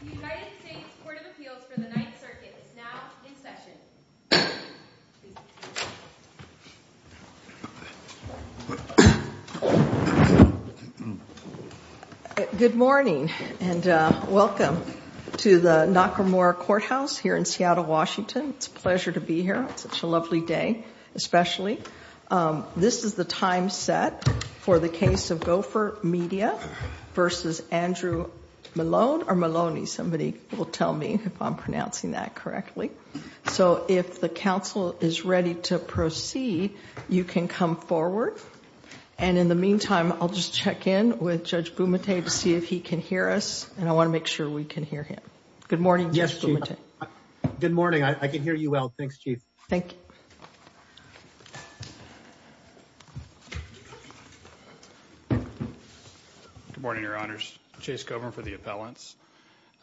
The United States Court of Appeals for the Ninth Circuit is now in session. Good morning and welcome to the Nakamura Courthouse here in Seattle, Washington. It's a pleasure to be here. It's such a lovely day, especially. This is the time set for the case of Gopher Media v. Andrew Melone or Maloney. Somebody will tell me if I'm pronouncing that correctly. So if the counsel is ready to proceed, you can come forward. And in the meantime, I'll just check in with Judge Bumate to see if he can hear us. And I want to make sure we can hear him. Good morning, Judge Bumate. Yes, Chief. Good morning. I can hear you well. Thanks, Chief. Thank you. Good morning, Your Honors. Chase Kovner for the appellants.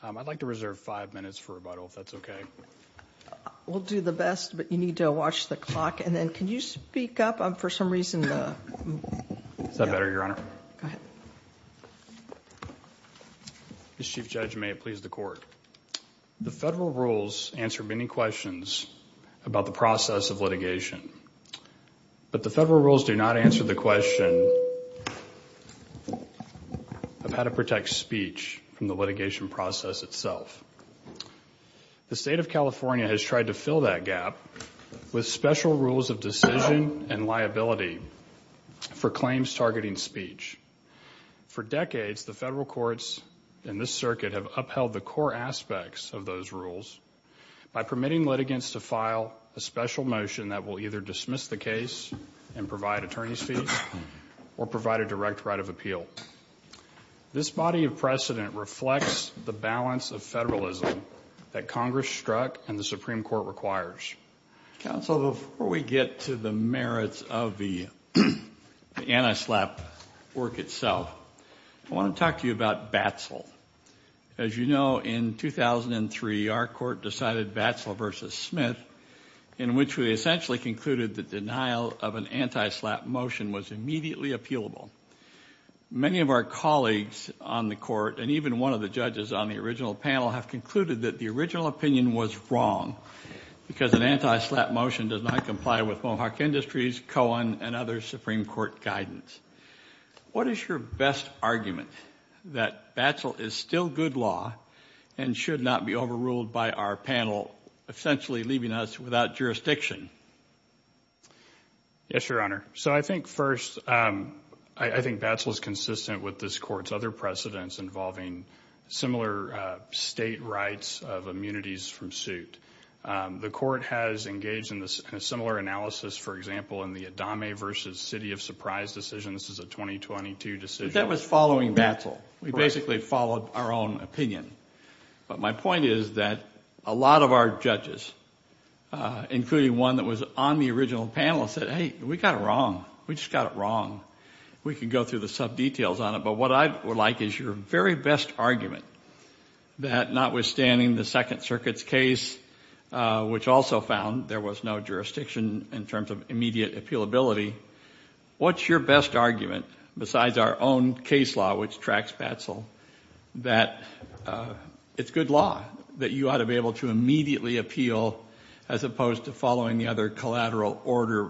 I'd like to reserve five minutes for rebuttal, if that's okay. We'll do the best, but you need to watch the clock. And then can you speak up? I'm for some reason – Is that better, Your Honor? Go ahead. Ms. Chief Judge, may it please the Court. The federal rules answer many questions about the process of litigation. But the federal rules do not answer the question of how to protect speech from the litigation process itself. The State of California has tried to fill that gap with special rules of decision and liability for claims targeting speech. For decades, the federal courts in this circuit have upheld the core aspects of those rules by permitting litigants to file a special motion that will either dismiss the case and provide attorney's fees or provide a direct right of appeal. This body of precedent reflects the balance of federalism that Congress struck and the Supreme Court requires. Counsel, before we get to the merits of the anti-SLAPP work itself, I want to talk to you about BATSL. As you know, in 2003, our court decided BATSL v. Smith, in which we essentially concluded the denial of an anti-SLAPP motion was immediately appealable. Many of our colleagues on the court, and even one of the judges on the original panel, have concluded that the original opinion was wrong because an anti-SLAPP motion does not comply with Mohawk Industries, Cohen, and other Supreme Court guidance. What is your best argument that BATSL is still good law and should not be overruled by our panel, essentially leaving us without jurisdiction? Yes, Your Honor. So I think first, I think BATSL is consistent with this court's other precedents involving similar state rights of immunities from suit. The court has engaged in a similar analysis, for example, in the Adame v. City of Surprise decision. This is a 2022 decision. That was following BATSL. We basically followed our own opinion. But my point is that a lot of our judges, including one that was on the original panel, said, hey, we got it wrong. We just got it wrong. We can go through the sub-details on it. But what I would like is your very best argument that, notwithstanding the Second Circuit's case, which also found there was no jurisdiction in terms of immediate appealability, what's your best argument, besides our own case law, which tracks BATSL, that it's good law, that you ought to be able to immediately appeal as opposed to following the other collateral order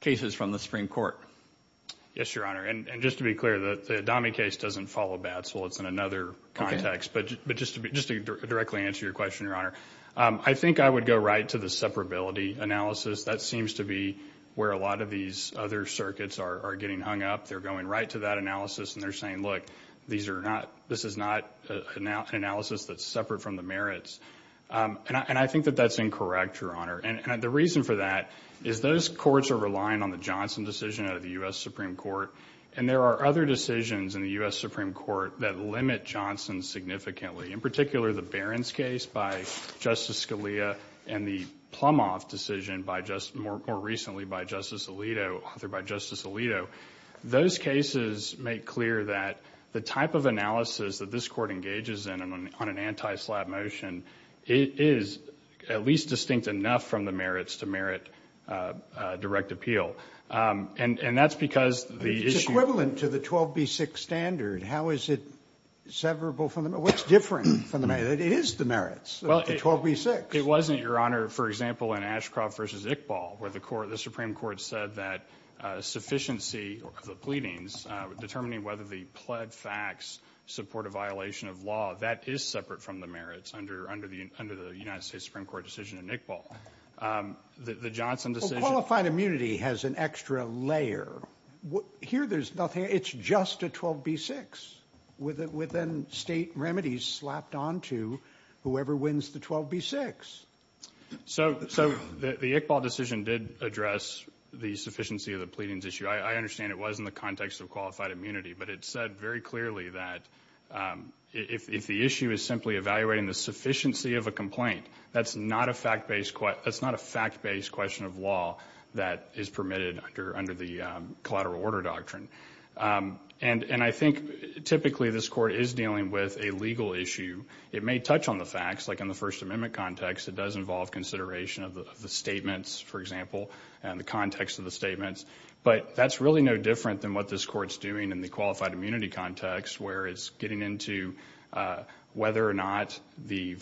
cases from the Supreme Court? Yes, Your Honor. And just to be clear, the Adame case doesn't follow BATSL. It's in another context. But just to directly answer your question, Your Honor, I think I would go right to the separability analysis. That seems to be where a lot of these other circuits are getting hung up. They're going right to that analysis, and they're saying, look, this is not an analysis that's separate from the merits. And I think that that's incorrect, Your Honor. And the reason for that is those courts are relying on the Johnson decision out of the U.S. Supreme Court, and there are other decisions in the U.S. Supreme Court that limit Johnson significantly, in particular the Barron's case by Justice Scalia and the Plumhoff decision more recently by Justice Alito. Those cases make clear that the type of analysis that this Court engages in on an anti-SLAPP motion is at least distinct enough from the merits to merit direct appeal. And that's because the issue of the 12B6 standard, how is it severable from the merits? What's different from the merits? It is the merits, the 12B6. It wasn't, Your Honor. For example, in Ashcroft v. Iqbal, where the Supreme Court said that sufficiency of the pleadings, determining whether the pled facts support a violation of law, that is separate from the merits under the United States Supreme Court decision in Iqbal. The Johnson decision— Qualified immunity has an extra layer. Here there's nothing. It's just a 12B6 with then state remedies slapped onto whoever wins the 12B6. So the Iqbal decision did address the sufficiency of the pleadings issue. I understand it was in the context of qualified immunity, but it said very clearly that if the issue is simply evaluating the sufficiency of a complaint, that's not a fact-based question of law that is permitted under the collateral order doctrine. And I think typically this Court is dealing with a legal issue. It may touch on the facts, like in the First Amendment context, it does involve consideration of the statements, for example, and the context of the statements. But that's really no different than what this Court's doing in the qualified immunity context, where it's getting into whether or not the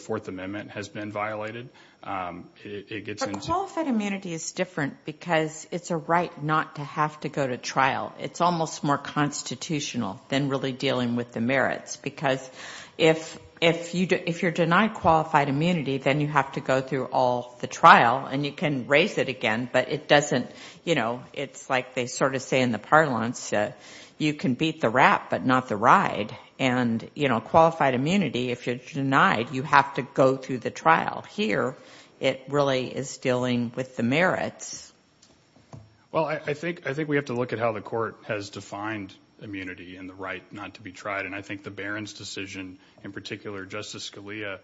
Fourth Amendment has been violated. Qualified immunity is different because it's a right not to have to go to trial. It's almost more constitutional than really dealing with the merits, because if you're denied qualified immunity, then you have to go through all the trial, and you can raise it again, but it doesn't— it's like they sort of say in the parlance, you can beat the rat but not the ride. And qualified immunity, if you're denied, you have to go through the trial. Here, it really is dealing with the merits. Well, I think we have to look at how the Court has defined immunity and the right not to be tried, and I think the Barron's decision, in particular, Justice Scalia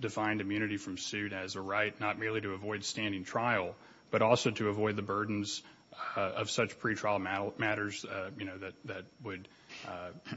defined immunity from suit as a right not merely to avoid standing trial, but also to avoid the burdens of such pretrial matters that would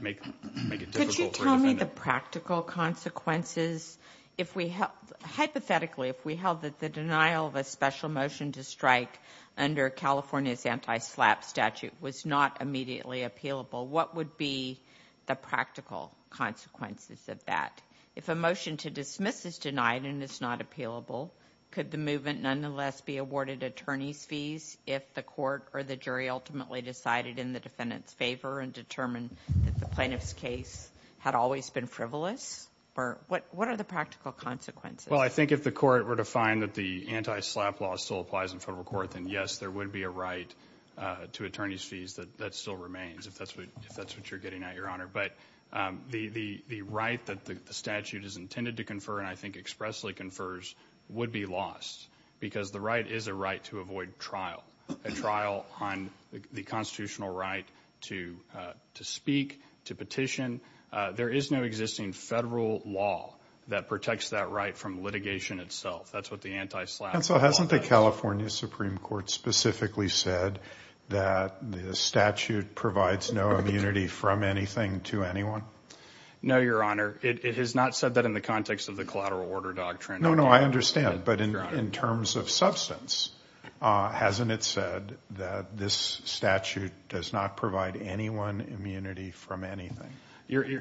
make it difficult for the defendant. Could you tell me the practical consequences? If we—hypothetically, if we held that the denial of a special motion to strike under California's anti-SLAPP statute was not immediately appealable, what would be the practical consequences of that? If a motion to dismiss is denied and is not appealable, could the movement nonetheless be awarded attorney's fees if the court or the jury ultimately decided in the defendant's favor and determined that the plaintiff's case had always been frivolous? What are the practical consequences? Well, I think if the Court were to find that the anti-SLAPP law still applies in federal court, then yes, there would be a right to attorney's fees. That still remains, if that's what you're getting at, Your Honor. But the right that the statute is intended to confer, and I think expressly confers, would be lost because the right is a right to avoid trial, a trial on the constitutional right to speak, to petition. There is no existing federal law that protects that right from litigation itself. That's what the anti-SLAPP law does. Counsel, hasn't the California Supreme Court specifically said that the statute provides no immunity from anything to anyone? No, Your Honor. It has not said that in the context of the collateral order doctrine. No, no, I understand. But in terms of substance, hasn't it said that this statute does not provide anyone immunity from anything?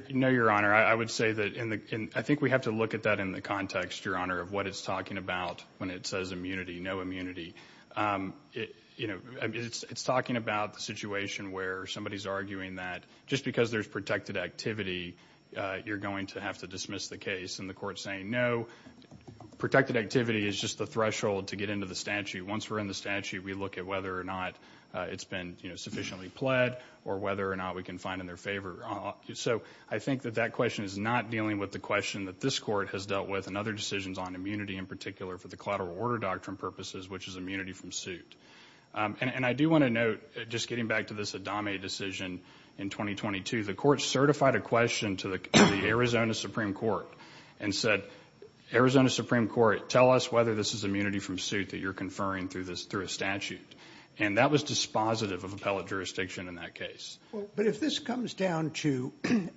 No, Your Honor. I would say that I think we have to look at that in the context, Your Honor, of what it's talking about when it says immunity, no immunity. It's talking about the situation where somebody's arguing that just because there's protected activity, you're going to have to dismiss the case, and the court's saying no, protected activity is just the threshold to get into the statute. Once we're in the statute, we look at whether or not it's been sufficiently pled or whether or not we can find in their favor. So I think that that question is not dealing with the question that this court has dealt with and other decisions on immunity in particular for the collateral order doctrine purposes, which is immunity from suit. And I do want to note, just getting back to this Adami decision in 2022, the court certified a question to the Arizona Supreme Court and said, Arizona Supreme Court, tell us whether this is immunity from suit that you're conferring through a statute. And that was dispositive of appellate jurisdiction in that case. But if this comes down to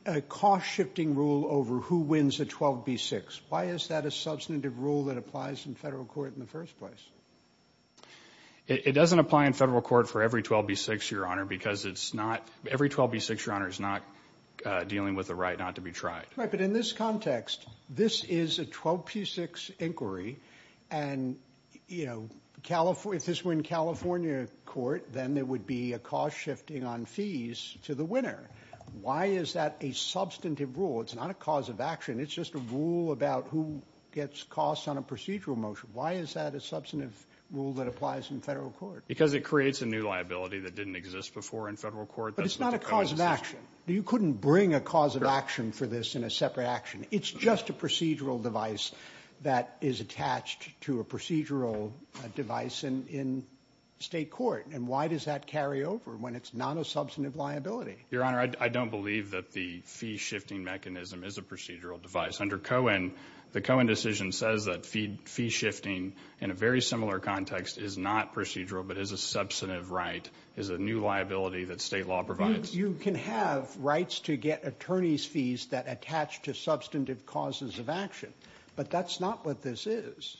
a cost-shifting rule over who wins a 12b-6, why is that a substantive rule that applies in federal court in the first place? It doesn't apply in federal court for every 12b-6, Your Honor, because every 12b-6, Your Honor, is not dealing with the right not to be tried. Right, but in this context, this is a 12b-6 inquiry, and if this were in California court, then there would be a cost-shifting on fees to the winner. Why is that a substantive rule? It's not a cause of action. It's just a rule about who gets costs on a procedural motion. Why is that a substantive rule that applies in federal court? Because it creates a new liability that didn't exist before in federal court. But it's not a cause of action. You couldn't bring a cause of action for this in a separate action. It's just a procedural device that is attached to a procedural device in state court. And why does that carry over when it's not a substantive liability? Your Honor, I don't believe that the fee-shifting mechanism is a procedural device. Under Cohen, the Cohen decision says that fee-shifting in a very similar context is not procedural but is a substantive right, is a new liability that state law provides. You can have rights to get attorney's fees that attach to substantive causes of action, but that's not what this is.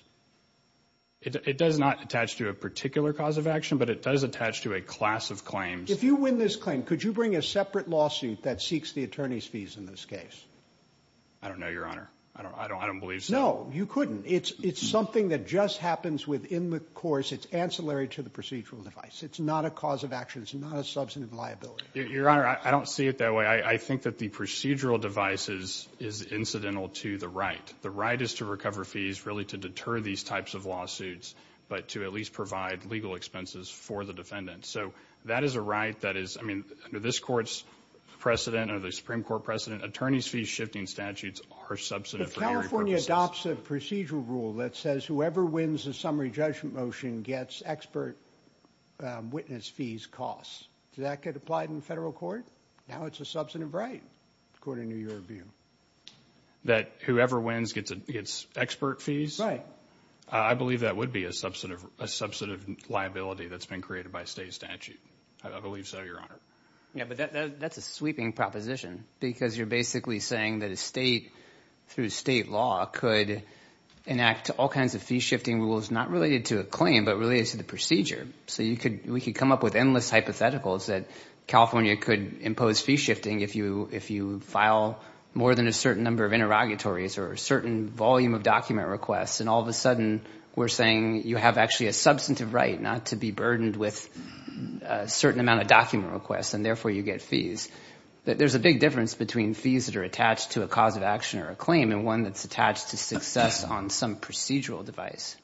It does not attach to a particular cause of action, but it does attach to a class of claims. If you win this claim, could you bring a separate lawsuit that seeks the attorney's fees in this case? I don't know, Your Honor. I don't believe so. No, you couldn't. It's something that just happens within the course. It's ancillary to the procedural device. It's not a cause of action. It's not a substantive liability. Your Honor, I don't see it that way. I think that the procedural device is incidental to the right. The right is to recover fees, really to deter these types of lawsuits, but to at least provide legal expenses for the defendant. So that is a right that is, I mean, under this Court's precedent, under the Supreme Court precedent, attorney's fees shifting statutes are substantive. If California adopts a procedural rule that says whoever wins a summary judgment motion gets expert witness fees costs, does that get applied in federal court? Now it's a substantive right, according to your view. That whoever wins gets expert fees? Right. I believe that would be a substantive liability that's been created by state statute. I believe so, Your Honor. Yeah, but that's a sweeping proposition because you're basically saying that a state through state law could enact all kinds of fee shifting rules not related to a claim but related to the procedure. So we could come up with endless hypotheticals that California could impose fee shifting if you file more than a certain number of interrogatories or a certain volume of document requests, and all of a sudden we're saying you have actually a substantive right not to be burdened with a certain amount of document requests and therefore you get fees. There's a big difference between fees that are attached to a cause of action or a claim and one that's attached to success on some procedural device.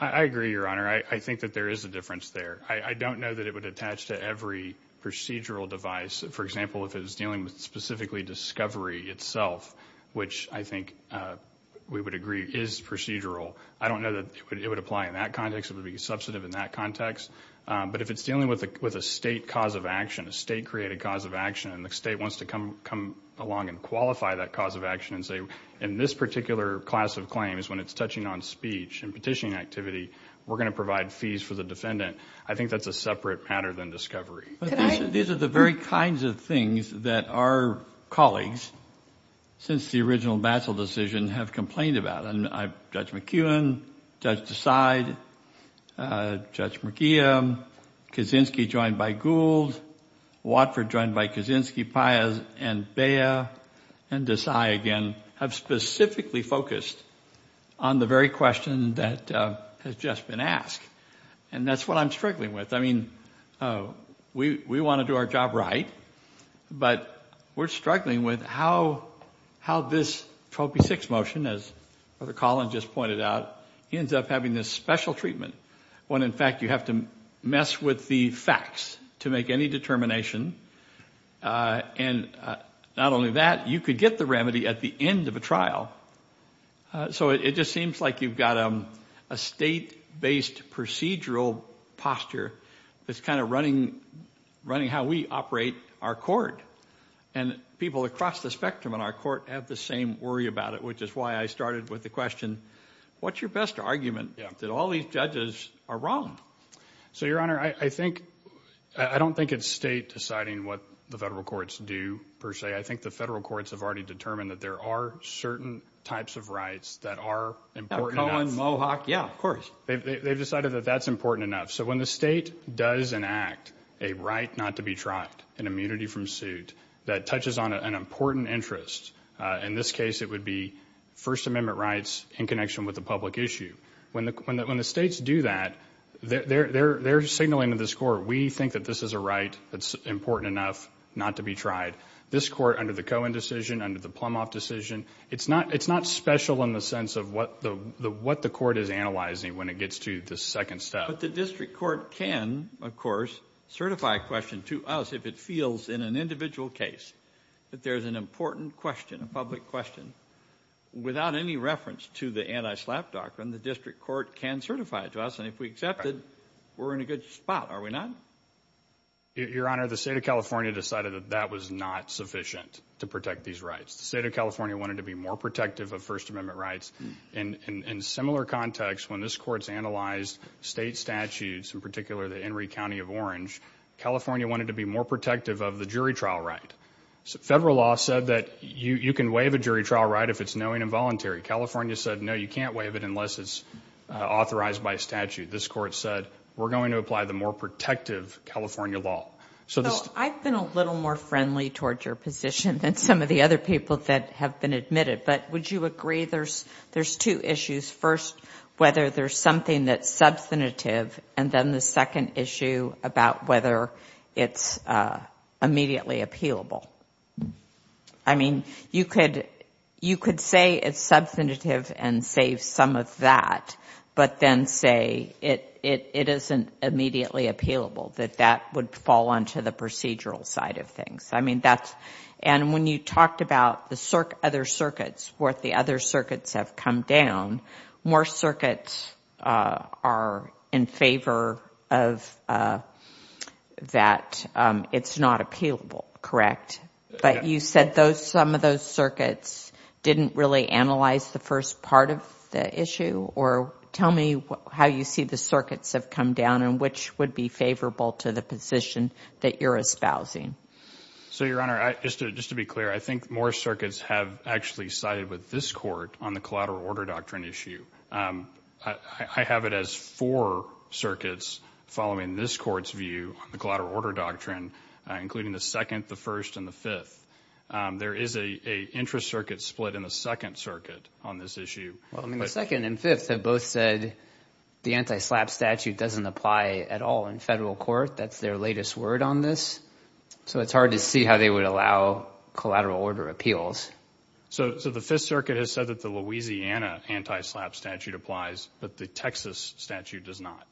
I agree, Your Honor. I think that there is a difference there. I don't know that it would attach to every procedural device. For example, if it was dealing with specifically discovery itself, which I think we would agree is procedural, I don't know that it would apply in that context. It would be substantive in that context. But if it's dealing with a state cause of action, a state created cause of action, and the state wants to come along and qualify that cause of action and say in this particular class of claims when it's touching on speech and petitioning activity, we're going to provide fees for the defendant, I think that's a separate matter than discovery. These are the very kinds of things that our colleagues, since the original battle decision, have complained about. Judge McEwen, Judge Desai, Judge McGeehan, Kaczynski joined by Gould, Watford joined by Kaczynski, Piaz and Bea, and Desai again, have specifically focused on the very question that has just been asked. And that's what I'm struggling with. I mean, we want to do our job right, but we're struggling with how this Trophy 6 motion, as Brother Colin just pointed out, ends up having this special treatment when, in fact, you have to mess with the facts to make any determination. And not only that, you could get the remedy at the end of a trial. So it just seems like you've got a state-based procedural posture that's kind of running how we operate our court. And people across the spectrum in our court have the same worry about it, which is why I started with the question, what's your best argument that all these judges are wrong? So, Your Honor, I don't think it's state deciding what the federal courts do, per se. I think the federal courts have already determined that there are certain types of rights that are important enough. Colin, Mohawk, yeah, of course. They've decided that that's important enough. So when the state does enact a right not to be tried, an immunity from suit, that touches on an important interest, in this case, it would be First Amendment rights in connection with the public issue. When the states do that, they're signaling to this court, we think that this is a right that's important enough not to be tried. This court, under the Cohen decision, under the Plumhoff decision, it's not special in the sense of what the court is analyzing when it gets to the second step. But the district court can, of course, certify a question to us if it feels in an individual case that there's an important question, a public question. Without any reference to the anti-SLAPP doctrine, the district court can certify it to us, and if we accept it, we're in a good spot, are we not? Your Honor, the state of California decided that that was not sufficient to protect these rights. The state of California wanted to be more protective of First Amendment rights. In similar context, when this court's analyzed state statutes, in particular the Henry County of Orange, California wanted to be more protective of the jury trial right. Federal law said that you can waive a jury trial right if it's knowing and voluntary. California said, no, you can't waive it unless it's authorized by statute. This court said, we're going to apply the more protective California law. So I've been a little more friendly towards your position than some of the other people that have been admitted, but would you agree there's two issues? First, whether there's something that's substantive, and then the second issue about whether it's immediately appealable. I mean, you could say it's substantive and save some of that, but then say it isn't immediately appealable, that that would fall onto the procedural side of things. I mean, that's, and when you talked about the other circuits, where the other circuits have come down, more circuits are in favor of that it's not appealable, correct? But you said some of those circuits didn't really analyze the first part of the issue, or tell me how you see the circuits have come down and which would be favorable to the position that you're espousing. So, Your Honor, just to be clear, I think more circuits have actually sided with this court on the collateral order doctrine issue. I have it as four circuits following this court's view on the collateral order doctrine, including the second, the first, and the fifth. There is a interest circuit split in the second circuit on this issue. The second and fifth have both said the anti-SLAPP statute doesn't apply at all in federal court. That's their latest word on this. So it's hard to see how they would allow collateral order appeals. So the fifth circuit has said that the Louisiana anti-SLAPP statute applies, but the Texas statute does not.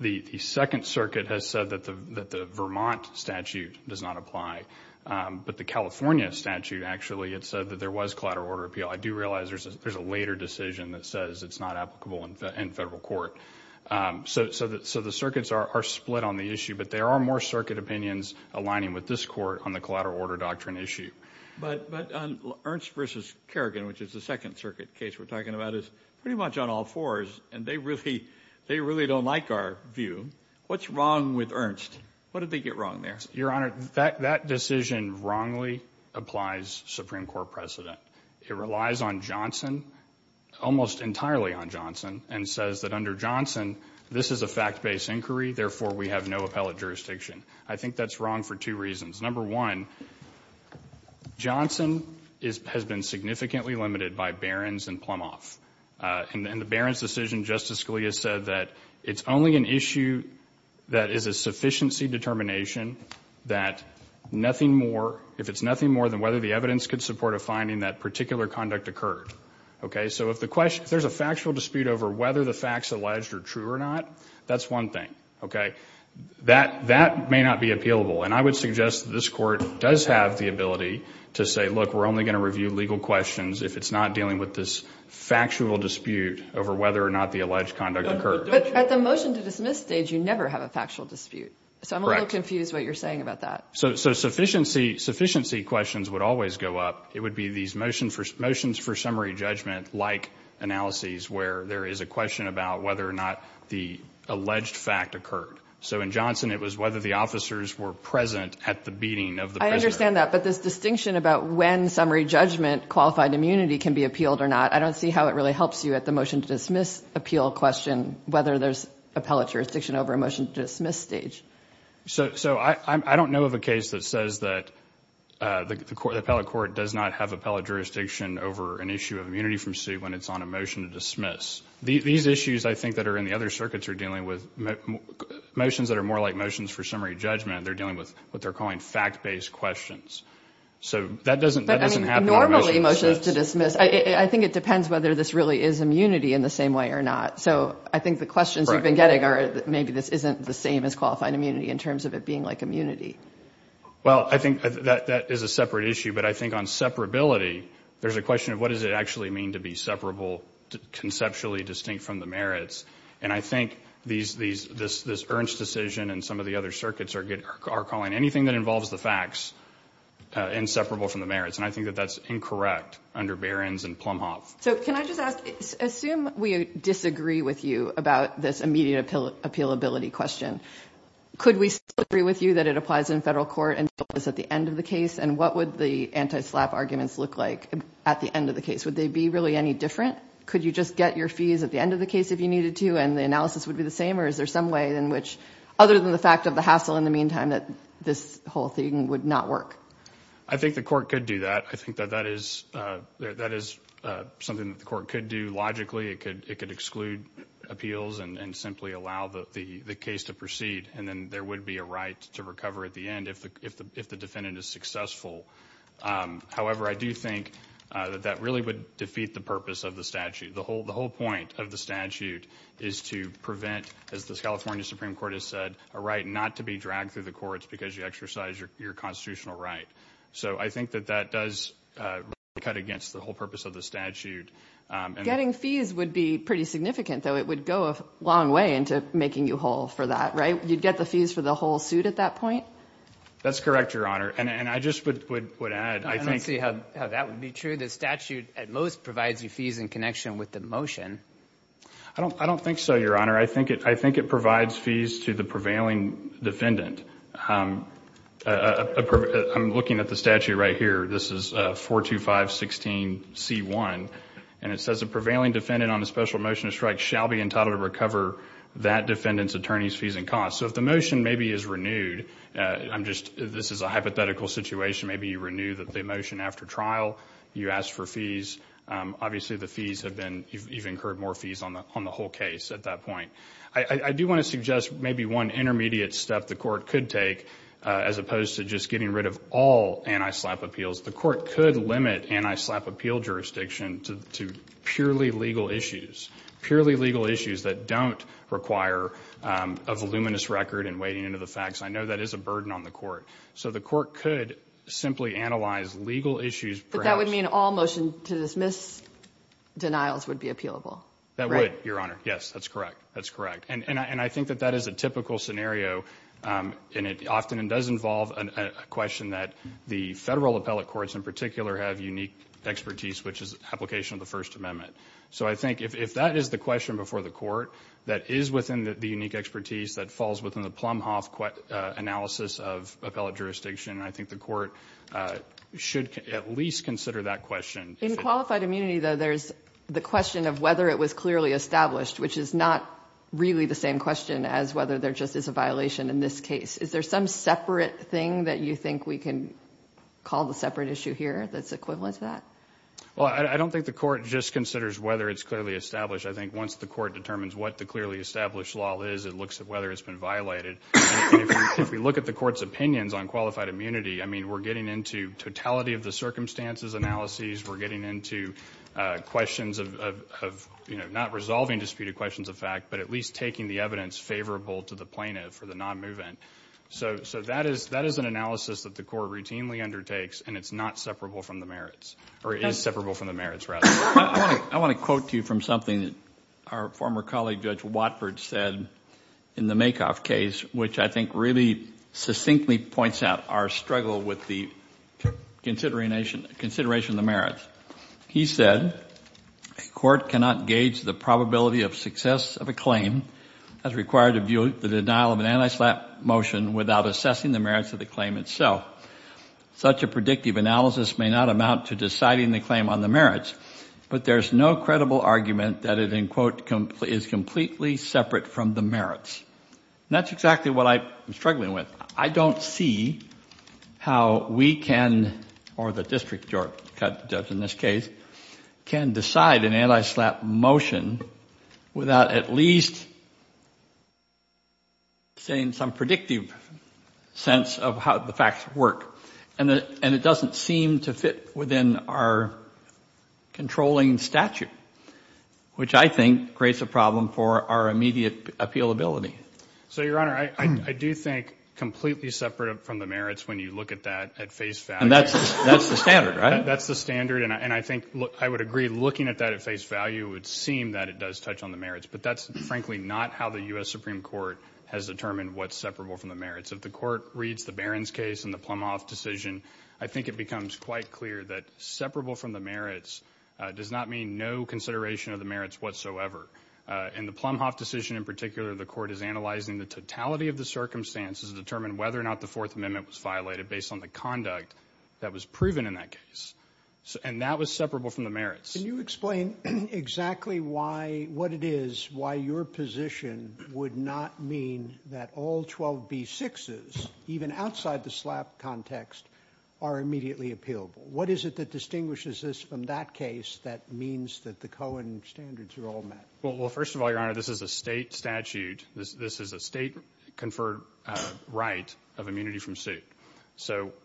The second circuit has said that the Vermont statute does not apply, but the California statute actually had said that there was collateral order appeal. I do realize there's a later decision that says it's not applicable in federal court. So the circuits are split on the issue, but there are more circuit opinions aligning with this court on the collateral order doctrine issue. But Ernst v. Kerrigan, which is the second circuit case we're talking about, is pretty much on all fours, and they really don't like our view. What's wrong with Ernst? What did they get wrong there? Your Honor, that decision wrongly applies Supreme Court precedent. It relies on Johnson, almost entirely on Johnson, and says that under Johnson this is a fact-based inquiry, therefore we have no appellate jurisdiction. I think that's wrong for two reasons. Number one, Johnson has been significantly limited by Barron's and Plumhoff. In the Barron's decision, Justice Scalia said that it's only an issue that is a sufficiency determination that if it's nothing more than whether the evidence could support a finding that particular conduct occurred. So if there's a factual dispute over whether the facts alleged are true or not, that's one thing. That may not be appealable, and I would suggest that this court does have the ability to say, look, we're only going to review legal questions if it's not dealing with this factual dispute over whether or not the alleged conduct occurred. But at the motion to dismiss stage, you never have a factual dispute. So I'm a little confused what you're saying about that. So sufficiency questions would always go up. It would be these motions for summary judgment-like analyses where there is a question about whether or not the alleged fact occurred. So in Johnson it was whether the officers were present at the beating of the prisoner. I understand that, but this distinction about when summary judgment, qualified immunity, can be appealed or not, I don't see how it really helps you at the motion to dismiss appeal question, whether there's appellate jurisdiction over a motion to dismiss stage. So I don't know of a case that says that the appellate court does not have appellate jurisdiction over an issue of immunity from suit when it's on a motion to dismiss. These issues, I think, that are in the other circuits are dealing with motions that are more like motions for summary judgment. They're dealing with what they're calling fact-based questions. So that doesn't happen on a motion to dismiss. Normally motions to dismiss, I think it depends whether this really is immunity in the same way or not. So I think the questions we've been getting are maybe this isn't the same as qualifying immunity in terms of it being like immunity. Well, I think that is a separate issue, but I think on separability, there's a question of what does it actually mean to be separable, conceptually distinct from the merits, and I think this Ernst decision and some of the other circuits are calling anything that involves the facts inseparable from the merits, and I think that that's incorrect under Behrens and Plumhoff. So can I just ask, assume we disagree with you about this immediate appealability question, could we still agree with you that it applies in federal court until it's at the end of the case, and what would the anti-SLAPP arguments look like at the end of the case? Would they be really any different? Could you just get your fees at the end of the case if you needed to and the analysis would be the same, or is there some way in which, other than the fact of the hassle in the meantime, that this whole thing would not work? I think the court could do that. I think that that is something that the court could do logically. It could exclude appeals and simply allow the case to proceed, and then there would be a right to recover at the end if the defendant is successful. However, I do think that that really would defeat the purpose of the statute. The whole point of the statute is to prevent, as the California Supreme Court has said, a right not to be dragged through the courts because you exercise your constitutional right. So I think that that does really cut against the whole purpose of the statute. Getting fees would be pretty significant, though. It would go a long way into making you whole for that, right? You'd get the fees for the whole suit at that point? That's correct, Your Honor, and I just would add, I think— I don't see how that would be true. The statute at most provides you fees in connection with the motion. I don't think so, Your Honor. I think it provides fees to the prevailing defendant. I'm looking at the statute right here. This is 42516C1, and it says, a prevailing defendant on a special motion to strike shall be entitled to recover that defendant's attorney's fees and costs. So if the motion maybe is renewed—this is a hypothetical situation. Maybe you renew the motion after trial. You ask for fees. Obviously, the fees have been—you've incurred more fees on the whole case at that point. I do want to suggest maybe one intermediate step the court could take as opposed to just getting rid of all anti-SLAPP appeals. The court could limit anti-SLAPP appeal jurisdiction to purely legal issues, purely legal issues that don't require a voluminous record and weighing into the facts. I know that is a burden on the court. So the court could simply analyze legal issues, perhaps— But that would mean all motion to dismiss denials would be appealable, right? That would, Your Honor. Yes, that's correct. That's correct. And I think that that is a typical scenario, and it often does involve a question that the federal appellate courts in particular have unique expertise, which is application of the First Amendment. So I think if that is the question before the court that is within the unique expertise that falls within the Plumhoff analysis of appellate jurisdiction, I think the court should at least consider that question. In qualified immunity, though, there's the question of whether it was clearly established, which is not really the same question as whether there just is a violation in this case. Is there some separate thing that you think we can call the separate issue here that's equivalent to that? Well, I don't think the court just considers whether it's clearly established. I think once the court determines what the clearly established law is, it looks at whether it's been violated. If we look at the court's opinions on qualified immunity, I mean, we're getting into totality of the circumstances analysis. We're getting into questions of not resolving disputed questions of fact, but at least taking the evidence favorable to the plaintiff for the non-movement. So that is an analysis that the court routinely undertakes, and it's not separable from the merits, or is separable from the merits, rather. I want to quote to you from something that our former colleague, Judge Watford, said in the Makoff case, which I think really succinctly points out our struggle with the consideration of the merits. He said, A court cannot gauge the probability of success of a claim as required to view the denial of an anti-SLAPP motion without assessing the merits of the claim itself. Such a predictive analysis may not amount to deciding the claim on the merits, but there's no credible argument that it, in quote, is completely separate from the merits. And that's exactly what I'm struggling with. I don't see how we can, or the district judge in this case, can decide an anti-SLAPP motion without at least saying some predictive sense of how the facts work. And it doesn't seem to fit within our controlling statute, which I think creates a problem for our immediate appealability. So, Your Honor, I do think completely separate from the merits when you look at that at face value. And that's the standard, right? That's the standard, and I think I would agree looking at that at face value, it would seem that it does touch on the merits, but that's frankly not how the U.S. Supreme Court has determined what's separable from the merits. If the court reads the Barron's case and the Plumhoff decision, I think it becomes quite clear that separable from the merits does not mean no consideration of the merits whatsoever. In the Plumhoff decision in particular, the court is analyzing the totality of the circumstances to determine whether or not the Fourth Amendment was violated based on the conduct that was proven in that case. And that was separable from the merits. Can you explain exactly what it is, why your position would not mean that all 12B6s, even outside the SLAPP context, are immediately appealable? What is it that distinguishes this from that case that means that the Cohen standards are all met? Well, first of all, Your Honor, this is a state statute. This is a state-conferred right of immunity from suit.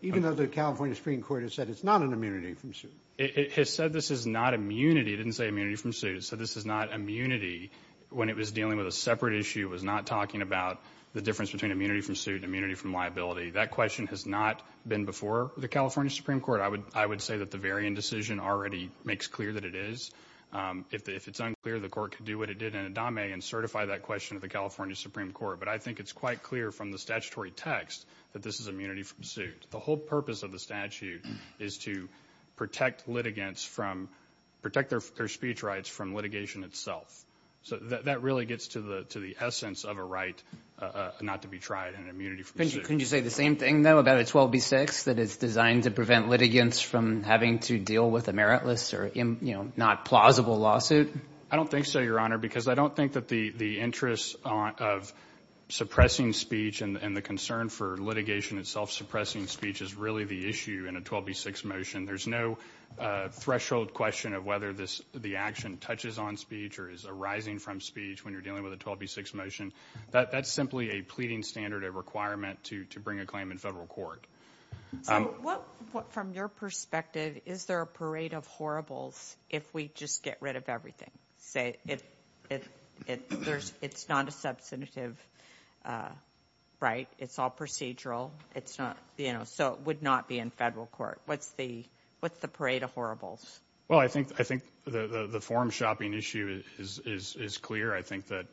Even though the California Supreme Court has said it's not an immunity from suit? It has said this is not immunity. It didn't say immunity from suit. It said this is not immunity when it was dealing with a separate issue. It was not talking about the difference between immunity from suit and immunity from liability. That question has not been before the California Supreme Court. I would say that the Varian decision already makes clear that it is. If it's unclear, the court could do what it did in Adame and certify that question to the California Supreme Court. But I think it's quite clear from the statutory text that this is immunity from suit. The whole purpose of the statute is to protect litigants from – protect their speech rights from litigation itself. So that really gets to the essence of a right not to be tried and immunity from suit. Couldn't you say the same thing, though, about a 12B6 that is designed to prevent litigants from having to deal with a meritless or not plausible lawsuit? I don't think so, Your Honor, because I don't think that the interest of suppressing speech and the concern for litigation itself suppressing speech is really the issue in a 12B6 motion. There's no threshold question of whether the action touches on speech or is arising from speech when you're dealing with a 12B6 motion. That's simply a pleading standard, a requirement to bring a claim in federal court. So what – from your perspective, is there a parade of horribles if we just get rid of everything? Say it's not a substantive right, it's all procedural, it's not – you know, so it would not be in federal court. What's the parade of horribles? Well, I think the forum shopping issue is clear. I think that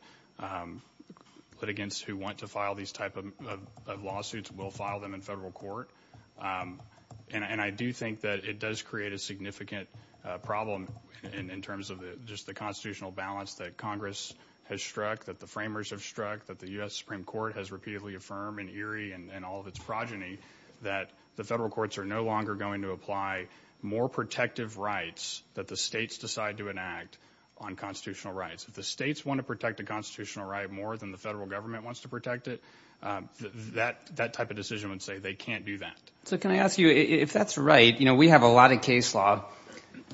litigants who want to file these type of lawsuits will file them in federal court. And I do think that it does create a significant problem in terms of just the constitutional balance that Congress has struck, that the framers have struck, that the U.S. Supreme Court has repeatedly affirmed in Erie and all of its progeny that the federal courts are no longer going to apply more protective rights that the states decide to enact on constitutional rights. If the states want to protect a constitutional right more than the federal government wants to protect it, that type of decision would say they can't do that. So can I ask you, if that's right, you know, we have a lot of case law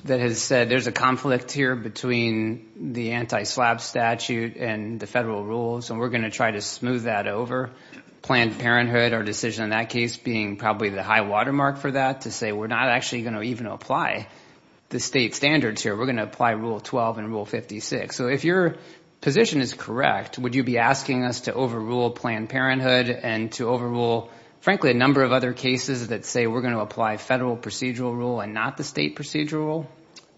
that has said there's a conflict here between the anti-SLAPP statute and the federal rules, and we're going to try to smooth that over. Planned Parenthood, our decision in that case, being probably the high watermark for that, to say we're not actually going to even apply the state standards here, we're going to apply Rule 12 and Rule 56. So if your position is correct, would you be asking us to overrule Planned Parenthood and to overrule, frankly, a number of other cases that say we're going to apply federal procedural rule and not the state procedural rule?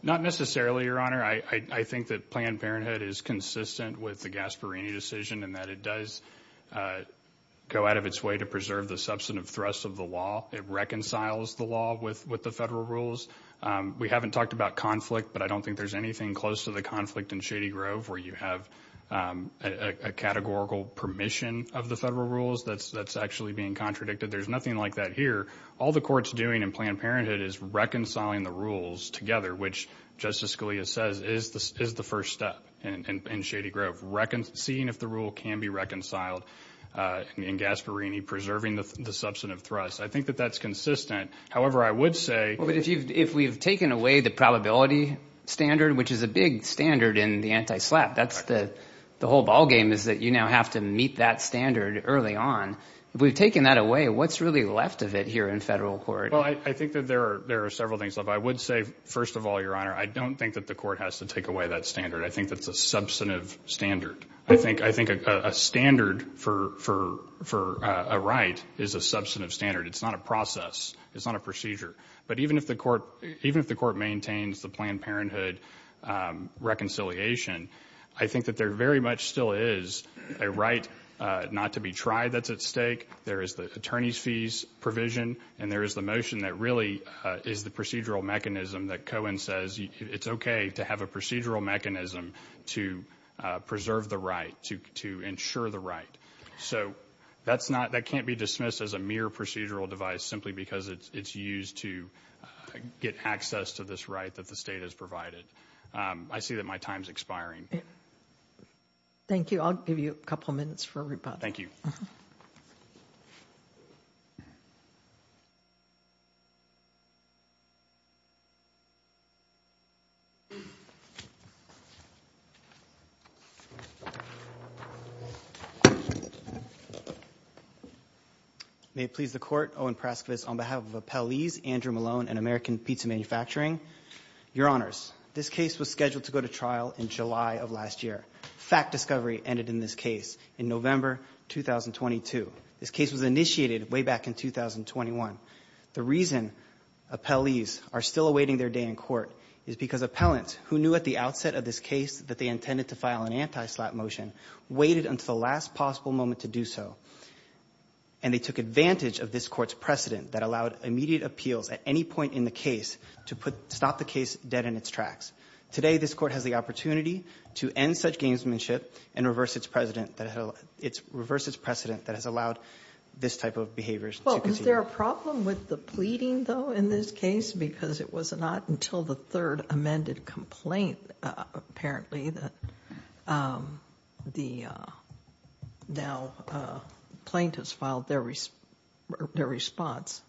Not necessarily, Your Honor. I think that Planned Parenthood is consistent with the Gasparini decision in that it does go out of its way to preserve the substantive thrust of the law. It reconciles the law with the federal rules. We haven't talked about conflict, but I don't think there's anything close to the conflict in Shady Grove where you have a categorical permission of the federal rules that's actually being contradicted. There's nothing like that here. All the Court's doing in Planned Parenthood is reconciling the rules together, which Justice Scalia says is the first step in Shady Grove, seeing if the rule can be reconciled in Gasparini, preserving the substantive thrust. I think that that's consistent. If we've taken away the probability standard, which is a big standard in the anti-SLAPP, the whole ballgame is that you now have to meet that standard early on. If we've taken that away, what's really left of it here in federal court? I think that there are several things left. I would say, first of all, Your Honor, I don't think that the Court has to take away that standard. I think that's a substantive standard. I think a standard for a right is a substantive standard. It's not a process. It's not a procedure. But even if the Court maintains the Planned Parenthood reconciliation, I think that there very much still is a right not to be tried that's at stake. There is the attorney's fees provision, and there is the motion that really is the procedural mechanism that Cohen says it's okay to have a procedural mechanism to preserve the right, to ensure the right. That can't be dismissed as a mere procedural device simply because it's used to get access to this right that the state has provided. I see that my time is expiring. Thank you. I'll give you a couple minutes for rebuttal. Thank you. May it please the Court. Owen Praskovitz on behalf of Appellees Andrew Malone and American Pizza Manufacturing. Your Honors, this case was scheduled to go to trial in July of last year. Fact discovery ended in this case in November 2022. This case was initiated way back in 2021. The reason appellees are still awaiting their day in court is because appellants, who knew at the outset of this case that they intended to file an anti-SLAPP motion, waited until the last possible moment to do so, and they took advantage of this Court's precedent that allowed immediate appeals at any point in the case to put the case dead in its tracks. Today, this Court has the opportunity to end such gamesmanship and reverse its precedent that has allowed this type of behavior. Is there a problem with the pleading, though, in this case? Because it was not until the third amended complaint, apparently, that the plaintiffs filed their response.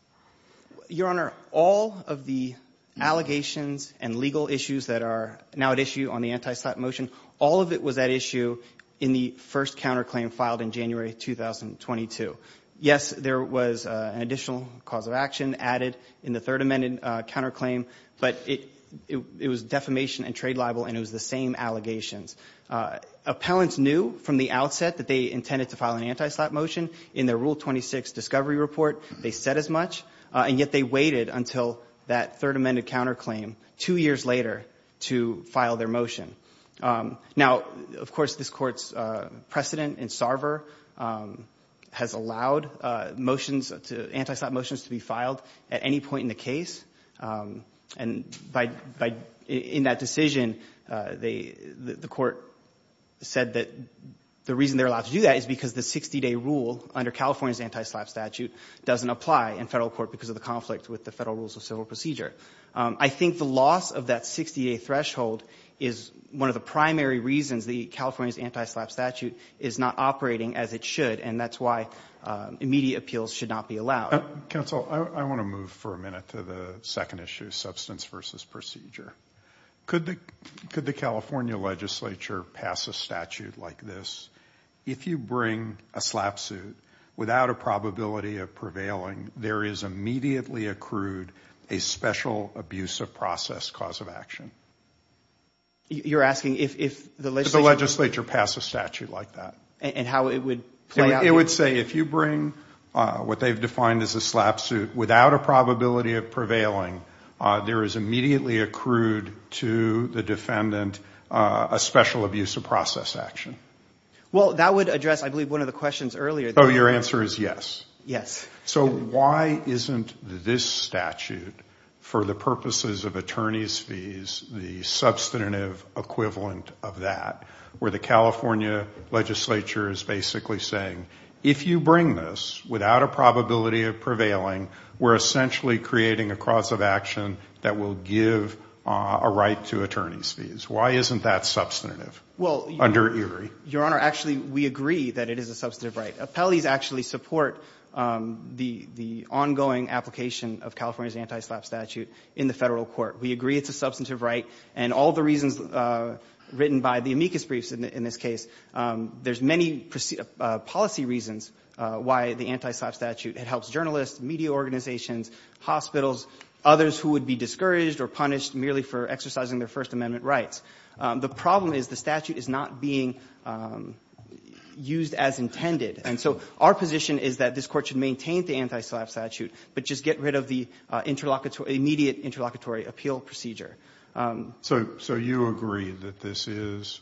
Your Honor, all of the allegations and legal issues that are now at issue on the anti-SLAPP motion, all of it was at issue in the first counterclaim filed in January 2022. Yes, there was an additional cause of action added in the third amended counterclaim, but it was defamation and trade libel, and it was the same allegations. Appellants knew from the outset that they intended to file an anti-SLAPP motion. In their Rule 26 discovery report, they said as much, and yet they waited until that third amended counterclaim two years later to file their motion. Now, of course, this Court's precedent in Sarver has allowed motions, anti-SLAPP motions to be filed at any point in the case, and in that decision, the Court said that the reason they're allowed to do that is because the 60-day rule under California's anti-SLAPP statute doesn't apply in Federal court because of the conflict with the Federal rules of civil procedure. I think the loss of that 60-day threshold is one of the primary reasons the California's anti-SLAPP statute is not operating as it should, and that's why immediate appeals should not be allowed. Counsel, I want to move for a minute to the second issue, substance versus procedure. Could the California legislature pass a statute like this? If you bring a SLAPP suit without a probability of prevailing, there is immediately accrued a special abuse of process cause of action. You're asking if the legislature would? If the legislature passed a statute like that. And how it would play out? It would say if you bring what they've defined as a SLAPP suit without a probability of prevailing, there is immediately accrued to the defendant a special abuse of process action. Well, that would address, I believe, one of the questions earlier. Oh, your answer is yes. Yes. So why isn't this statute, for the purposes of attorney's fees, the substantive equivalent of that, where the California legislature is basically saying if you bring this without a probability of prevailing, we're essentially creating a cause of action that will give a right to attorney's fees? Why isn't that substantive under ERIE? Your Honor, actually, we agree that it is a substantive right. Appellees actually support the ongoing application of California's anti-SLAPP statute in the Federal Court. We agree it's a substantive right. And all the reasons written by the amicus briefs in this case, there's many policy reasons why the anti-SLAPP statute helps journalists, media organizations, hospitals, others who would be discouraged or punished merely for exercising their First Amendment rights. The problem is the statute is not being used as intended. And so our position is that this Court should maintain the anti-SLAPP statute, but just get rid of the interlocutory immediate interlocutory appeal procedure. So you agree that this is,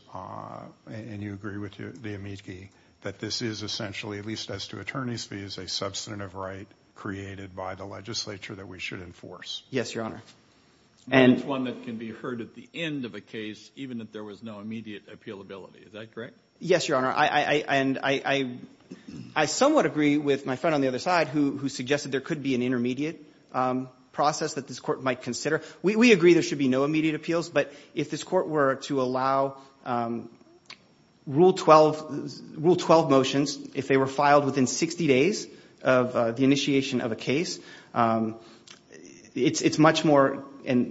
and you agree with the amici, that this is essentially, at least as to attorney's fees, a substantive right created by the legislature that we should enforce? Yes, Your Honor. And it's one that can be heard at the end of a case even if there was no immediate appealability, is that correct? Yes, Your Honor. And I somewhat agree with my friend on the other side who suggested there could be an intermediate process that this Court might consider. We agree there should be no immediate appeals, but if this Court were to allow Rule 12 motions, if they were filed within 60 days of the initiation of a case, it's much more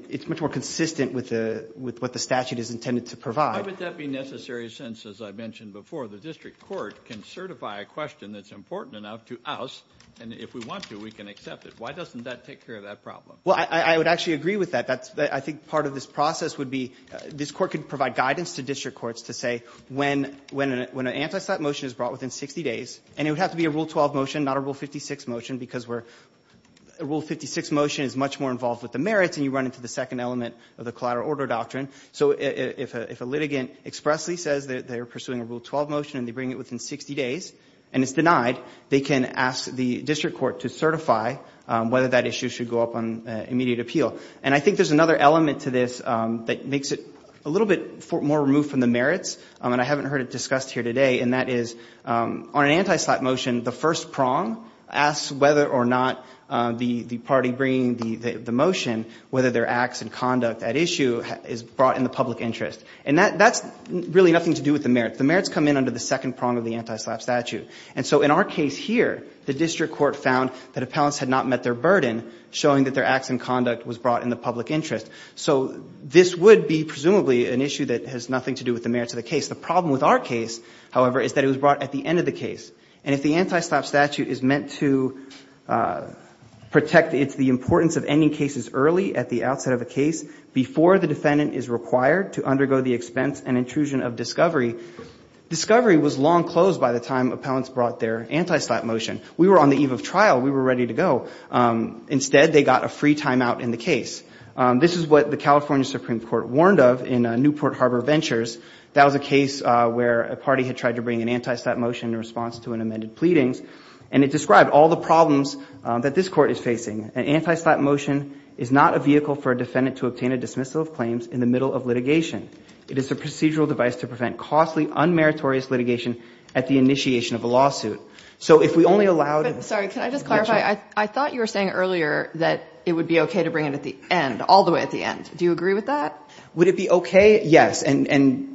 consistent with what the statute is intended to provide. Why would that be necessary since, as I mentioned before, the district court can certify a question that's important enough to us, and if we want to, we can accept it. Why doesn't that take care of that problem? Well, I would actually agree with that. I think part of this process would be this Court could provide guidance to district courts to say when an anti-SLAPP motion is brought within 60 days, and it would have to be a Rule 12 motion, not a Rule 56 motion, because a Rule 56 motion is much more involved with the merits and you run into the second element of the collateral order doctrine. So if a litigant expressly says they're pursuing a Rule 12 motion and they bring it within 60 days and it's denied, they can ask the district court to certify whether that issue should go up on immediate appeal. And I think there's another element to this that makes it a little bit more removed from the merits, and I haven't heard it discussed here today, and that is on an anti-SLAPP motion, the first prong asks whether or not the party bringing the motion, whether their acts and conduct at issue is brought in the public interest. And that's really nothing to do with the merits. The merits come in under the second prong of the anti-SLAPP statute. And so in our case here, the district court found that appellants had not met their burden showing that their acts and conduct was brought in the public interest. So this would be presumably an issue that has nothing to do with the merits of the case. The problem with our case, however, is that it was brought at the end of the case. And if the anti-SLAPP statute is meant to protect the importance of ending cases early at the outset of a case before the defendant is required to undergo the expense and intrusion of discovery, discovery was long closed by the time appellants brought their anti-SLAPP motion. We were on the eve of trial. We were ready to go. Instead, they got a free timeout in the case. This is what the California Supreme Court warned of in Newport Harbor Ventures. That was a case where a party had tried to bring an anti-SLAPP motion in response to an amended pleadings. And it described all the problems that this Court is facing. An anti-SLAPP motion is not a vehicle for a defendant to obtain a dismissal of claims in the middle of litigation. It is a procedural device to prevent costly, unmeritorious litigation at the initiation of a lawsuit. So if we only allowed it to be mentioned. But, sorry, can I just clarify? I thought you were saying earlier that it would be okay to bring it at the end, all the way at the end. Do you agree with that? Would it be okay? Yes. And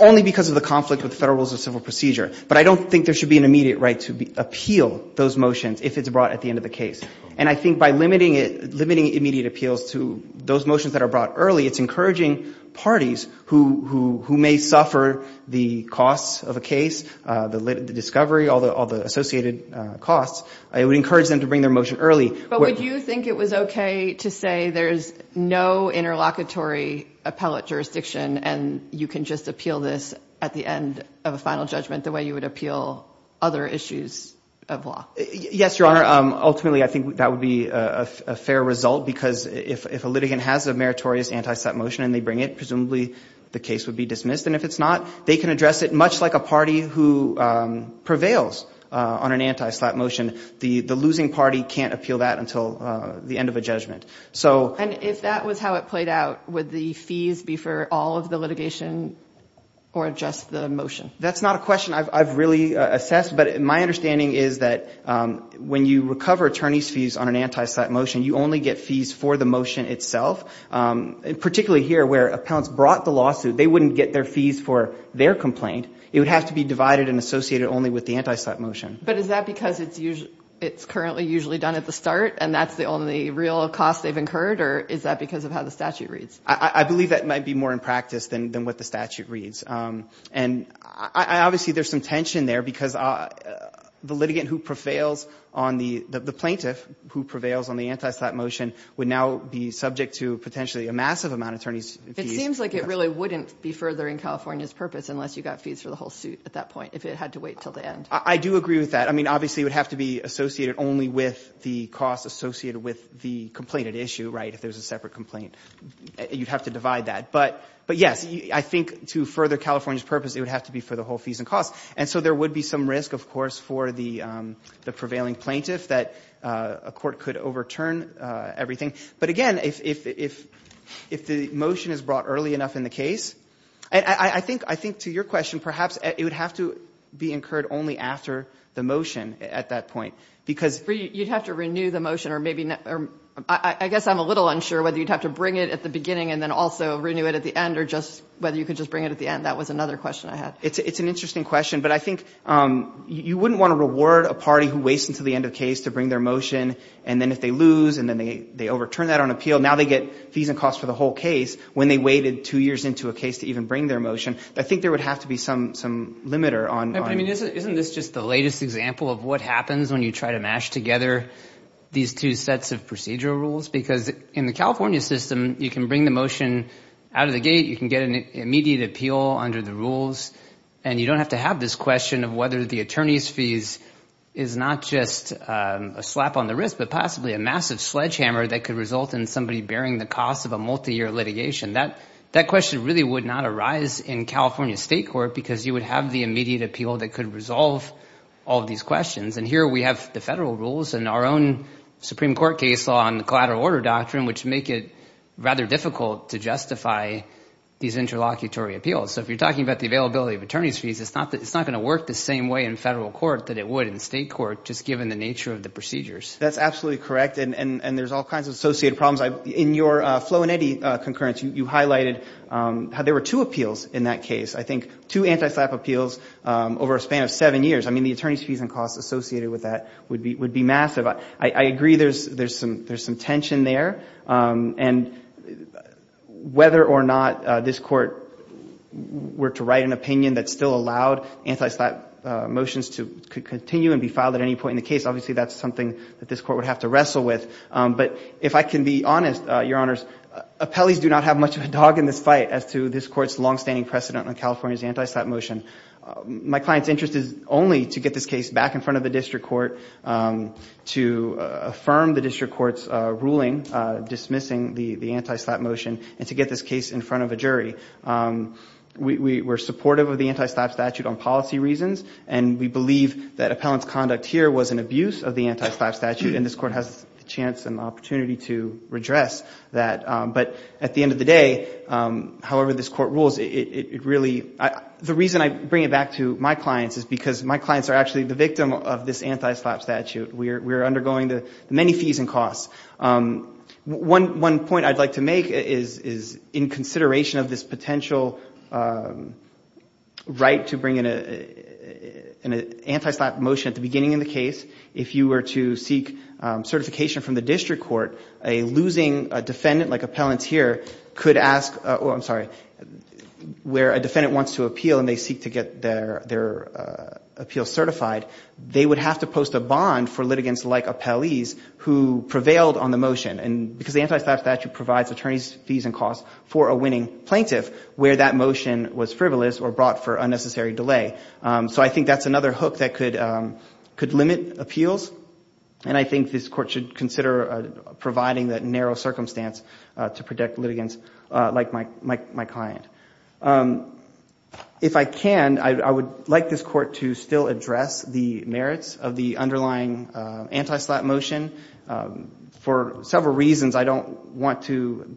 only because of the conflict with Federal Rules of Civil Procedure. But I don't think there should be an immediate right to appeal those motions if it's brought at the end of the case. And I think by limiting it, limiting immediate appeals to those motions that are brought early, it's encouraging parties who may suffer the costs of a case, the discovery, all the associated costs. It would encourage them to bring their motion early. But would you think it was okay to say there's no interlocutory appellate jurisdiction and you can just appeal this at the end of a final judgment the way you would appeal other issues of law? Yes, Your Honor. Ultimately, I think that would be a fair result because if a litigant has a meritorious anti-slap motion and they bring it, presumably the case would be dismissed. And if it's not, they can address it much like a party who prevails on an anti-slap motion. The losing party can't appeal that until the end of a judgment. And if that was how it played out, would the fees be for all of the litigation or just the motion? That's not a question I've really assessed. But my understanding is that when you recover attorney's fees on an anti-slap motion, you only get fees for the motion itself, particularly here where appellants brought the lawsuit. They wouldn't get their fees for their complaint. It would have to be divided and associated only with the anti-slap motion. But is that because it's currently usually done at the start and that's the only real cost they've incurred? Or is that because of how the statute reads? I believe that might be more in practice than what the statute reads. And obviously there's some tension there because the litigant who prevails on the plaintiff, who prevails on the anti-slap motion, would now be subject to potentially a massive amount of attorney's fees. It seems like it really wouldn't be furthering California's purpose unless you got fees for the whole suit at that point if it had to wait until the end. I do agree with that. I mean, obviously it would have to be associated only with the cost associated with the complainant issue, right, if there's a separate complaint. You'd have to divide that. But, yes, I think to further California's purpose, it would have to be for the whole fees and costs. And so there would be some risk, of course, for the prevailing plaintiff that a court could overturn everything. But, again, if the motion is brought early enough in the case, I think to your question, perhaps it would have to be incurred only after the motion at that point. Because you'd have to renew the motion or maybe not. I guess I'm a little unsure whether you'd have to bring it at the beginning and then also renew it at the end or just whether you could just bring it at the end. That was another question I had. It's an interesting question. But I think you wouldn't want to reward a party who waits until the end of the case to bring their motion. And then if they lose and then they overturn that on appeal, now they get fees and costs for the whole case when they waited two years into a case to even bring their motion. I think there would have to be some limiter on. Isn't this just the latest example of what happens when you try to mash together these two sets of procedural rules? Because in the California system, you can bring the motion out of the gate. You can get an immediate appeal under the rules. And you don't have to have this question of whether the attorney's fees is not just a slap on the wrist but possibly a massive sledgehammer that could result in somebody bearing the cost of a multiyear litigation. That question really would not arise in California state court because you would have the immediate appeal that could resolve all of these questions. And here we have the federal rules and our own Supreme Court case law on the collateral order doctrine which make it rather difficult to justify these interlocutory appeals. So if you're talking about the availability of attorney's fees, it's not going to work the same way in federal court that it would in state court just given the nature of the procedures. That's absolutely correct. And there's all kinds of associated problems. In your Flo and Eddie concurrence, you highlighted there were two appeals in that case. I think two anti-slap appeals over a span of seven years. I mean, the attorney's fees and costs associated with that would be massive. I agree there's some tension there. And whether or not this court were to write an opinion that still allowed anti-slap motions to continue and be filed at any point in the case, obviously that's something that this court would have to wrestle with. But if I can be honest, Your Honors, appellees do not have much of a dog in this fight as to this court's longstanding precedent on California's anti-slap motion. My client's interest is only to get this case back in front of the district court to affirm the district court's ruling dismissing the anti-slap motion and to get this case in front of a jury. We're supportive of the anti-slap statute on policy reasons. And we believe that appellant's conduct here was an abuse of the anti-slap statute. And this court has the chance and opportunity to redress that. But at the end of the day, however this court rules, it really the reason I bring it back to my clients is because my clients are actually the victim of this anti-slap statute. We are undergoing the many fees and costs. One point I'd like to make is in consideration of this potential right to bring in an anti-slap motion at the beginning of the case, if you were to seek certification from the district court, a losing defendant like appellant here could ask, oh, I'm sorry, where a defendant wants to appeal and they seek to get their appeal certified, they would have to post a bond for litigants like appellees who prevailed on the motion. And because the anti-slap statute provides attorneys' fees and costs for a winning plaintiff where that motion was frivolous or brought for unnecessary delay. So I think that's another hook that could limit appeals. And I think this court should consider providing that narrow circumstance to protect litigants like my client. If I can, I would like this court to still address the merits of the underlying anti-slap motion. For several reasons, I don't want to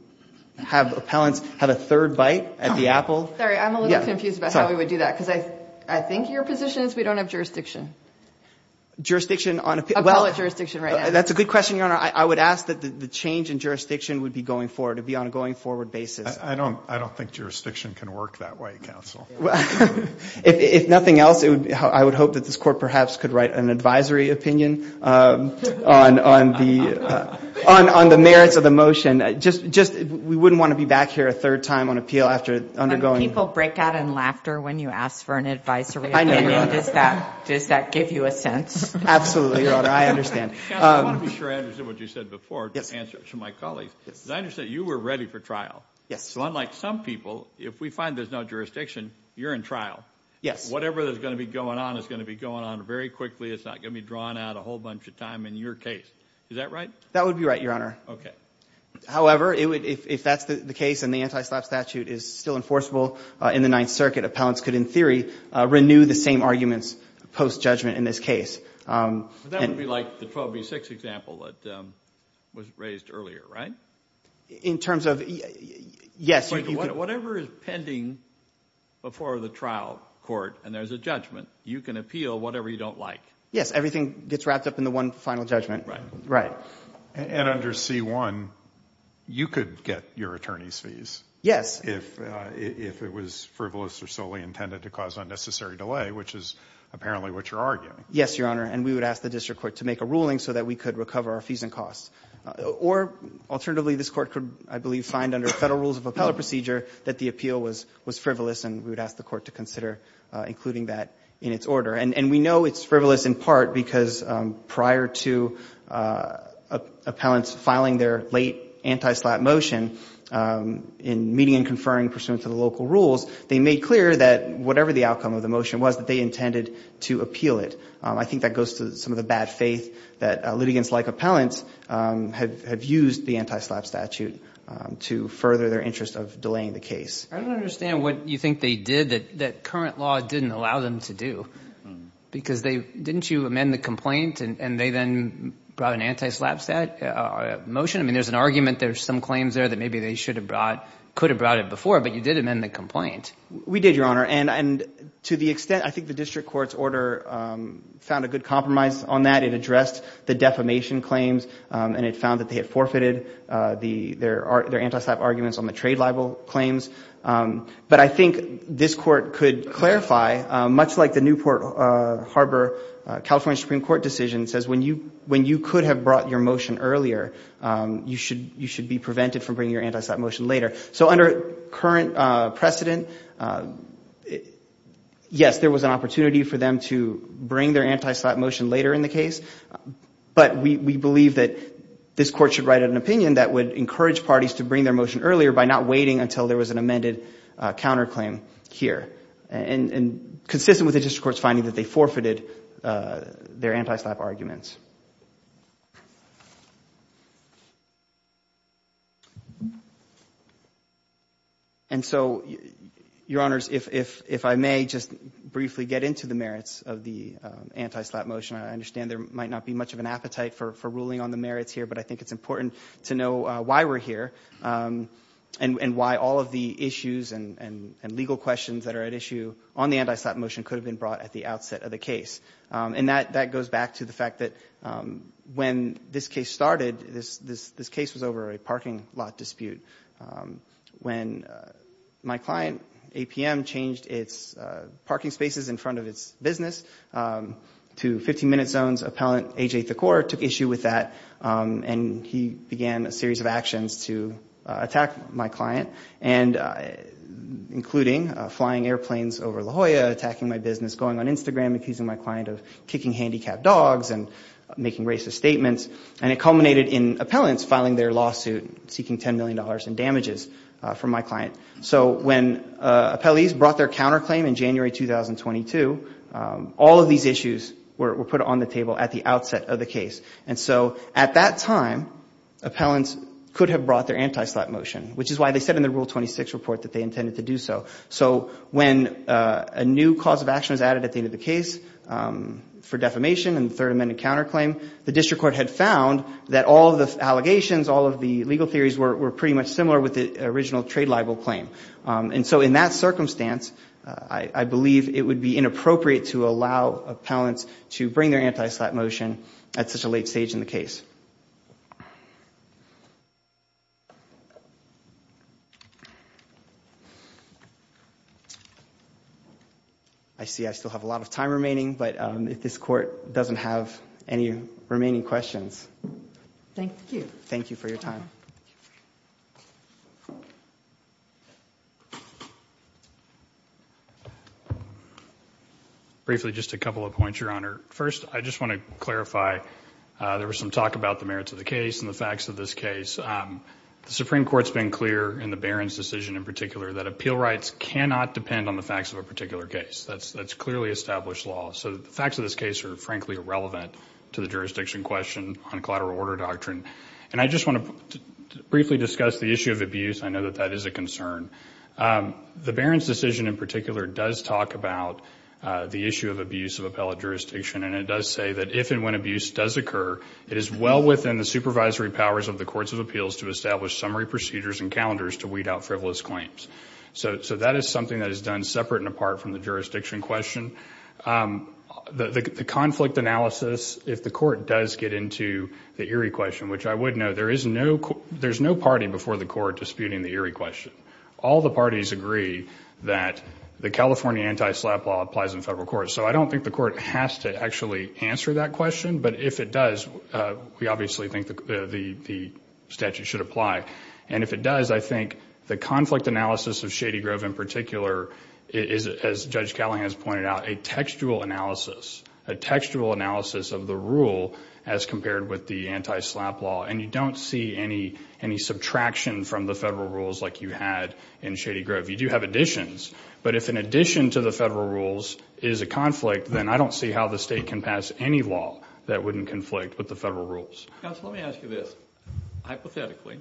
have appellants have a third bite at the apple. Sorry, I'm a little confused about how we would do that. Because I think your position is we don't have jurisdiction. Jurisdiction on appeal. Appellant jurisdiction right now. That's a good question, Your Honor. I would ask that the change in jurisdiction would be going forward. It would be on a going forward basis. I don't think jurisdiction can work that way, counsel. If nothing else, I would hope that this court perhaps could write an advisory opinion on the merits of the motion. We wouldn't want to be back here a third time on appeal. When people break out in laughter when you ask for an advisory opinion, does that give you a sense? Absolutely, Your Honor. I understand. Counsel, I want to be sure I understand what you said before to answer to my colleagues. I understand you were ready for trial. Yes. Unlike some people, if we find there's no jurisdiction, you're in trial. Yes. Whatever is going to be going on is going to be going on very quickly. It's not going to be drawn out a whole bunch of time in your case. Is that right? That would be right, Your Honor. Okay. However, if that's the case and the anti-slap statute is still enforceable in the Ninth Circuit, appellants could, in theory, renew the same arguments post-judgment in this case. That would be like the 12B6 example that was raised earlier, right? In terms of, yes. Whatever is pending before the trial court and there's a judgment, you can appeal whatever you don't like. Yes. Everything gets wrapped up in the one final judgment. Right. And under C-1, you could get your attorney's fees. Yes. If it was frivolous or solely intended to cause unnecessary delay, which is apparently what you're arguing. Yes, Your Honor. And we would ask the district court to make a ruling so that we could recover our fees and costs. Or, alternatively, this court could, I believe, find under Federal Rules of Appellate Procedure that the appeal was frivolous, and we would ask the court to consider including that in its order. And we know it's frivolous in part because prior to appellants filing their late anti-SLAPP motion, in meeting and conferring pursuant to the local rules, they made clear that whatever the outcome of the motion was, that they intended to appeal it. I think that goes to some of the bad faith that litigants like appellants have used the anti-SLAPP statute to further their interest of delaying the case. I don't understand what you think they did that current law didn't allow them to do. Because didn't you amend the complaint, and they then brought an anti-SLAPP motion? I mean, there's an argument. There's some claims there that maybe they should have brought, could have brought it before, but you did amend the complaint. We did, Your Honor. And to the extent, I think the district court's order found a good compromise on that. It addressed the defamation claims, and it found that they had forfeited their anti-SLAPP arguments on the trade libel claims. But I think this court could clarify, much like the Newport Harbor California Supreme Court decision says, when you could have brought your motion earlier, you should be prevented from bringing your anti-SLAPP motion later. So under current precedent, yes, there was an opportunity for them to bring their anti-SLAPP motion later in the case. But we believe that this court should write an opinion that would encourage parties to bring their motion earlier by not waiting until there was an amended counterclaim here. And consistent with the district court's finding that they forfeited their anti-SLAPP arguments. And so, Your Honors, if I may just briefly get into the merits of the anti-SLAPP motion. I understand there might not be much of an appetite for ruling on the merits here, but I think it's important to know why we're here and why all of the issues and legal questions that are at issue on the anti-SLAPP motion could have been brought at the outset of the case. And that goes back to the fact that when this case started, this case was over a parking lot dispute. When my client, APM, changed its parking spaces in front of its business to 15-minute zones, appellant AJ Thakor took issue with that and he began a series of actions to attack my client. And including flying airplanes over La Jolla, attacking my business, going on Instagram, accusing my client of kicking handicapped dogs and making racist statements. And it culminated in appellants filing their lawsuit seeking $10 million in damages from my client. So when appellees brought their counterclaim in January 2022, all of these issues were put on the table at the outset of the case. And so at that time, appellants could have brought their anti-SLAPP motion, which is why they said in the Rule 26 report that they intended to do so. So when a new cause of action was added at the end of the case for defamation and the Third Amendment counterclaim, the district court had found that all of the allegations, all of the legal theories were pretty much similar with the original trade libel claim. And so in that circumstance, I believe it would be inappropriate to allow appellants to bring their anti-SLAPP motion at such a late stage in the case. I see I still have a lot of time remaining, but if this court doesn't have any remaining questions. Thank you. Thank you for your time. Briefly, just a couple of points, Your Honor. First, I just want to clarify, there was some talk about the merits of the case and the facts of this case. The Supreme Court's been clear in the Barron's decision in particular that appeal rights cannot depend on the facts of a particular case. That's clearly established law. So the facts of this case are frankly irrelevant to the jurisdiction question on collateral order doctrine. And I just want to briefly discuss the issue of abuse. I know that that is a concern. The Barron's decision in particular does talk about the issue of abuse of appellate jurisdiction, and it does say that if and when abuse does occur, it is well within the supervisory powers of the courts of appeals to establish summary procedures and calendars to weed out frivolous claims. So that is something that is done separate and apart from the jurisdiction question. The conflict analysis, if the court does get into the Erie question, which I would note, there is no party before the court disputing the Erie question. All the parties agree that the California anti-SLAPP law applies in federal court. So I don't think the court has to actually answer that question, but if it does, we obviously think the statute should apply. And if it does, I think the conflict analysis of Shady Grove in particular is, as Judge Cowling has pointed out, a textual analysis, a textual analysis of the rule as compared with the anti-SLAPP law. And you don't see any subtraction from the federal rules like you had in Shady Grove. You do have additions, but if an addition to the federal rules is a conflict, then I don't see how the state can pass any law that wouldn't conflict with the federal rules. Counsel, let me ask you this. Hypothetically,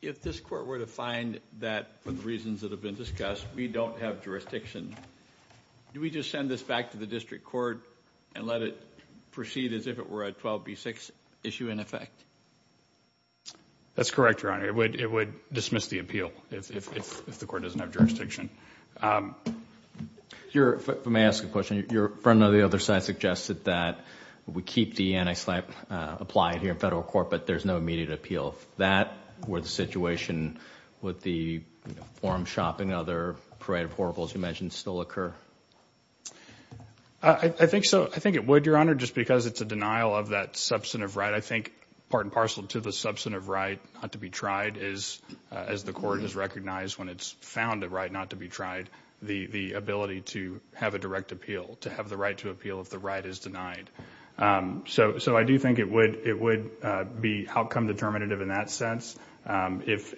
if this court were to find that for the reasons that have been discussed, we don't have jurisdiction, do we just send this back to the district court and let it proceed as if it were a 12B6 issue in effect? That's correct, Your Honor. It would dismiss the appeal if the court doesn't have jurisdiction. If I may ask a question. Your friend on the other side suggested that we keep the anti-SLAPP applied here in federal court, but there's no immediate appeal. If that were the situation, would the forum shopping and other parade of horribles you mentioned still occur? I think so. I think it would, Your Honor, just because it's a denial of that substantive right. I think part and parcel to the substantive right not to be tried is, as the court has recognized when it's found a right not to be tried, the ability to have a direct appeal, to have the right to appeal if the right is denied. So I do think it would be outcome determinative in that sense. If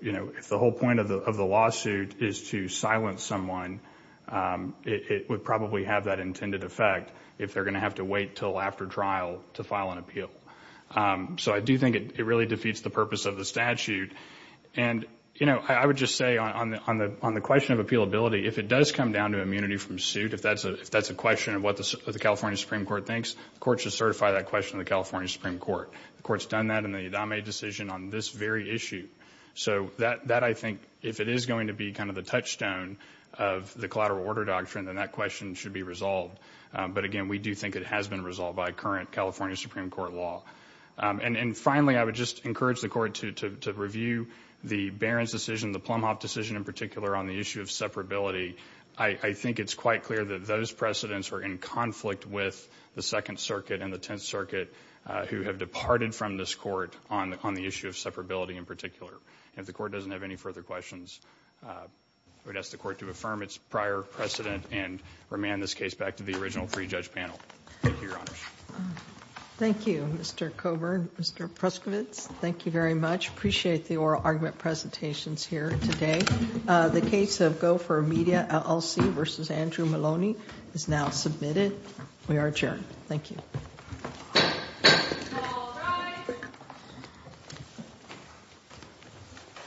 the whole point of the lawsuit is to silence someone, it would probably have that intended effect if they're going to have to wait until after trial to file an appeal. So I do think it really defeats the purpose of the statute. I would just say on the question of appealability, if it does come down to immunity from suit, if that's a question of what the California Supreme Court thinks, the court should certify that question to the California Supreme Court. The court's done that in the Adame decision on this very issue. So that, I think, if it is going to be kind of the touchstone of the collateral order doctrine, then that question should be resolved. But again, we do think it has been resolved by current California Supreme Court law. And finally, I would just encourage the court to review the Barron's decision, the Plumhoff decision in particular, on the issue of separability. I think it's quite clear that those precedents are in conflict with the Second Circuit and the Tenth Circuit who have departed from this court on the issue of separability in particular. If the court doesn't have any further questions, I would ask the court to affirm its prior precedent and remand this case back to the original pre-judge panel. Thank you, Your Honors. Thank you, Mr. Coburn. Mr. Pruskowitz, thank you very much. Appreciate the oral argument presentations here today. The case of Gopher Media LLC v. Andrew Maloney is now submitted. We are adjourned. Thank you.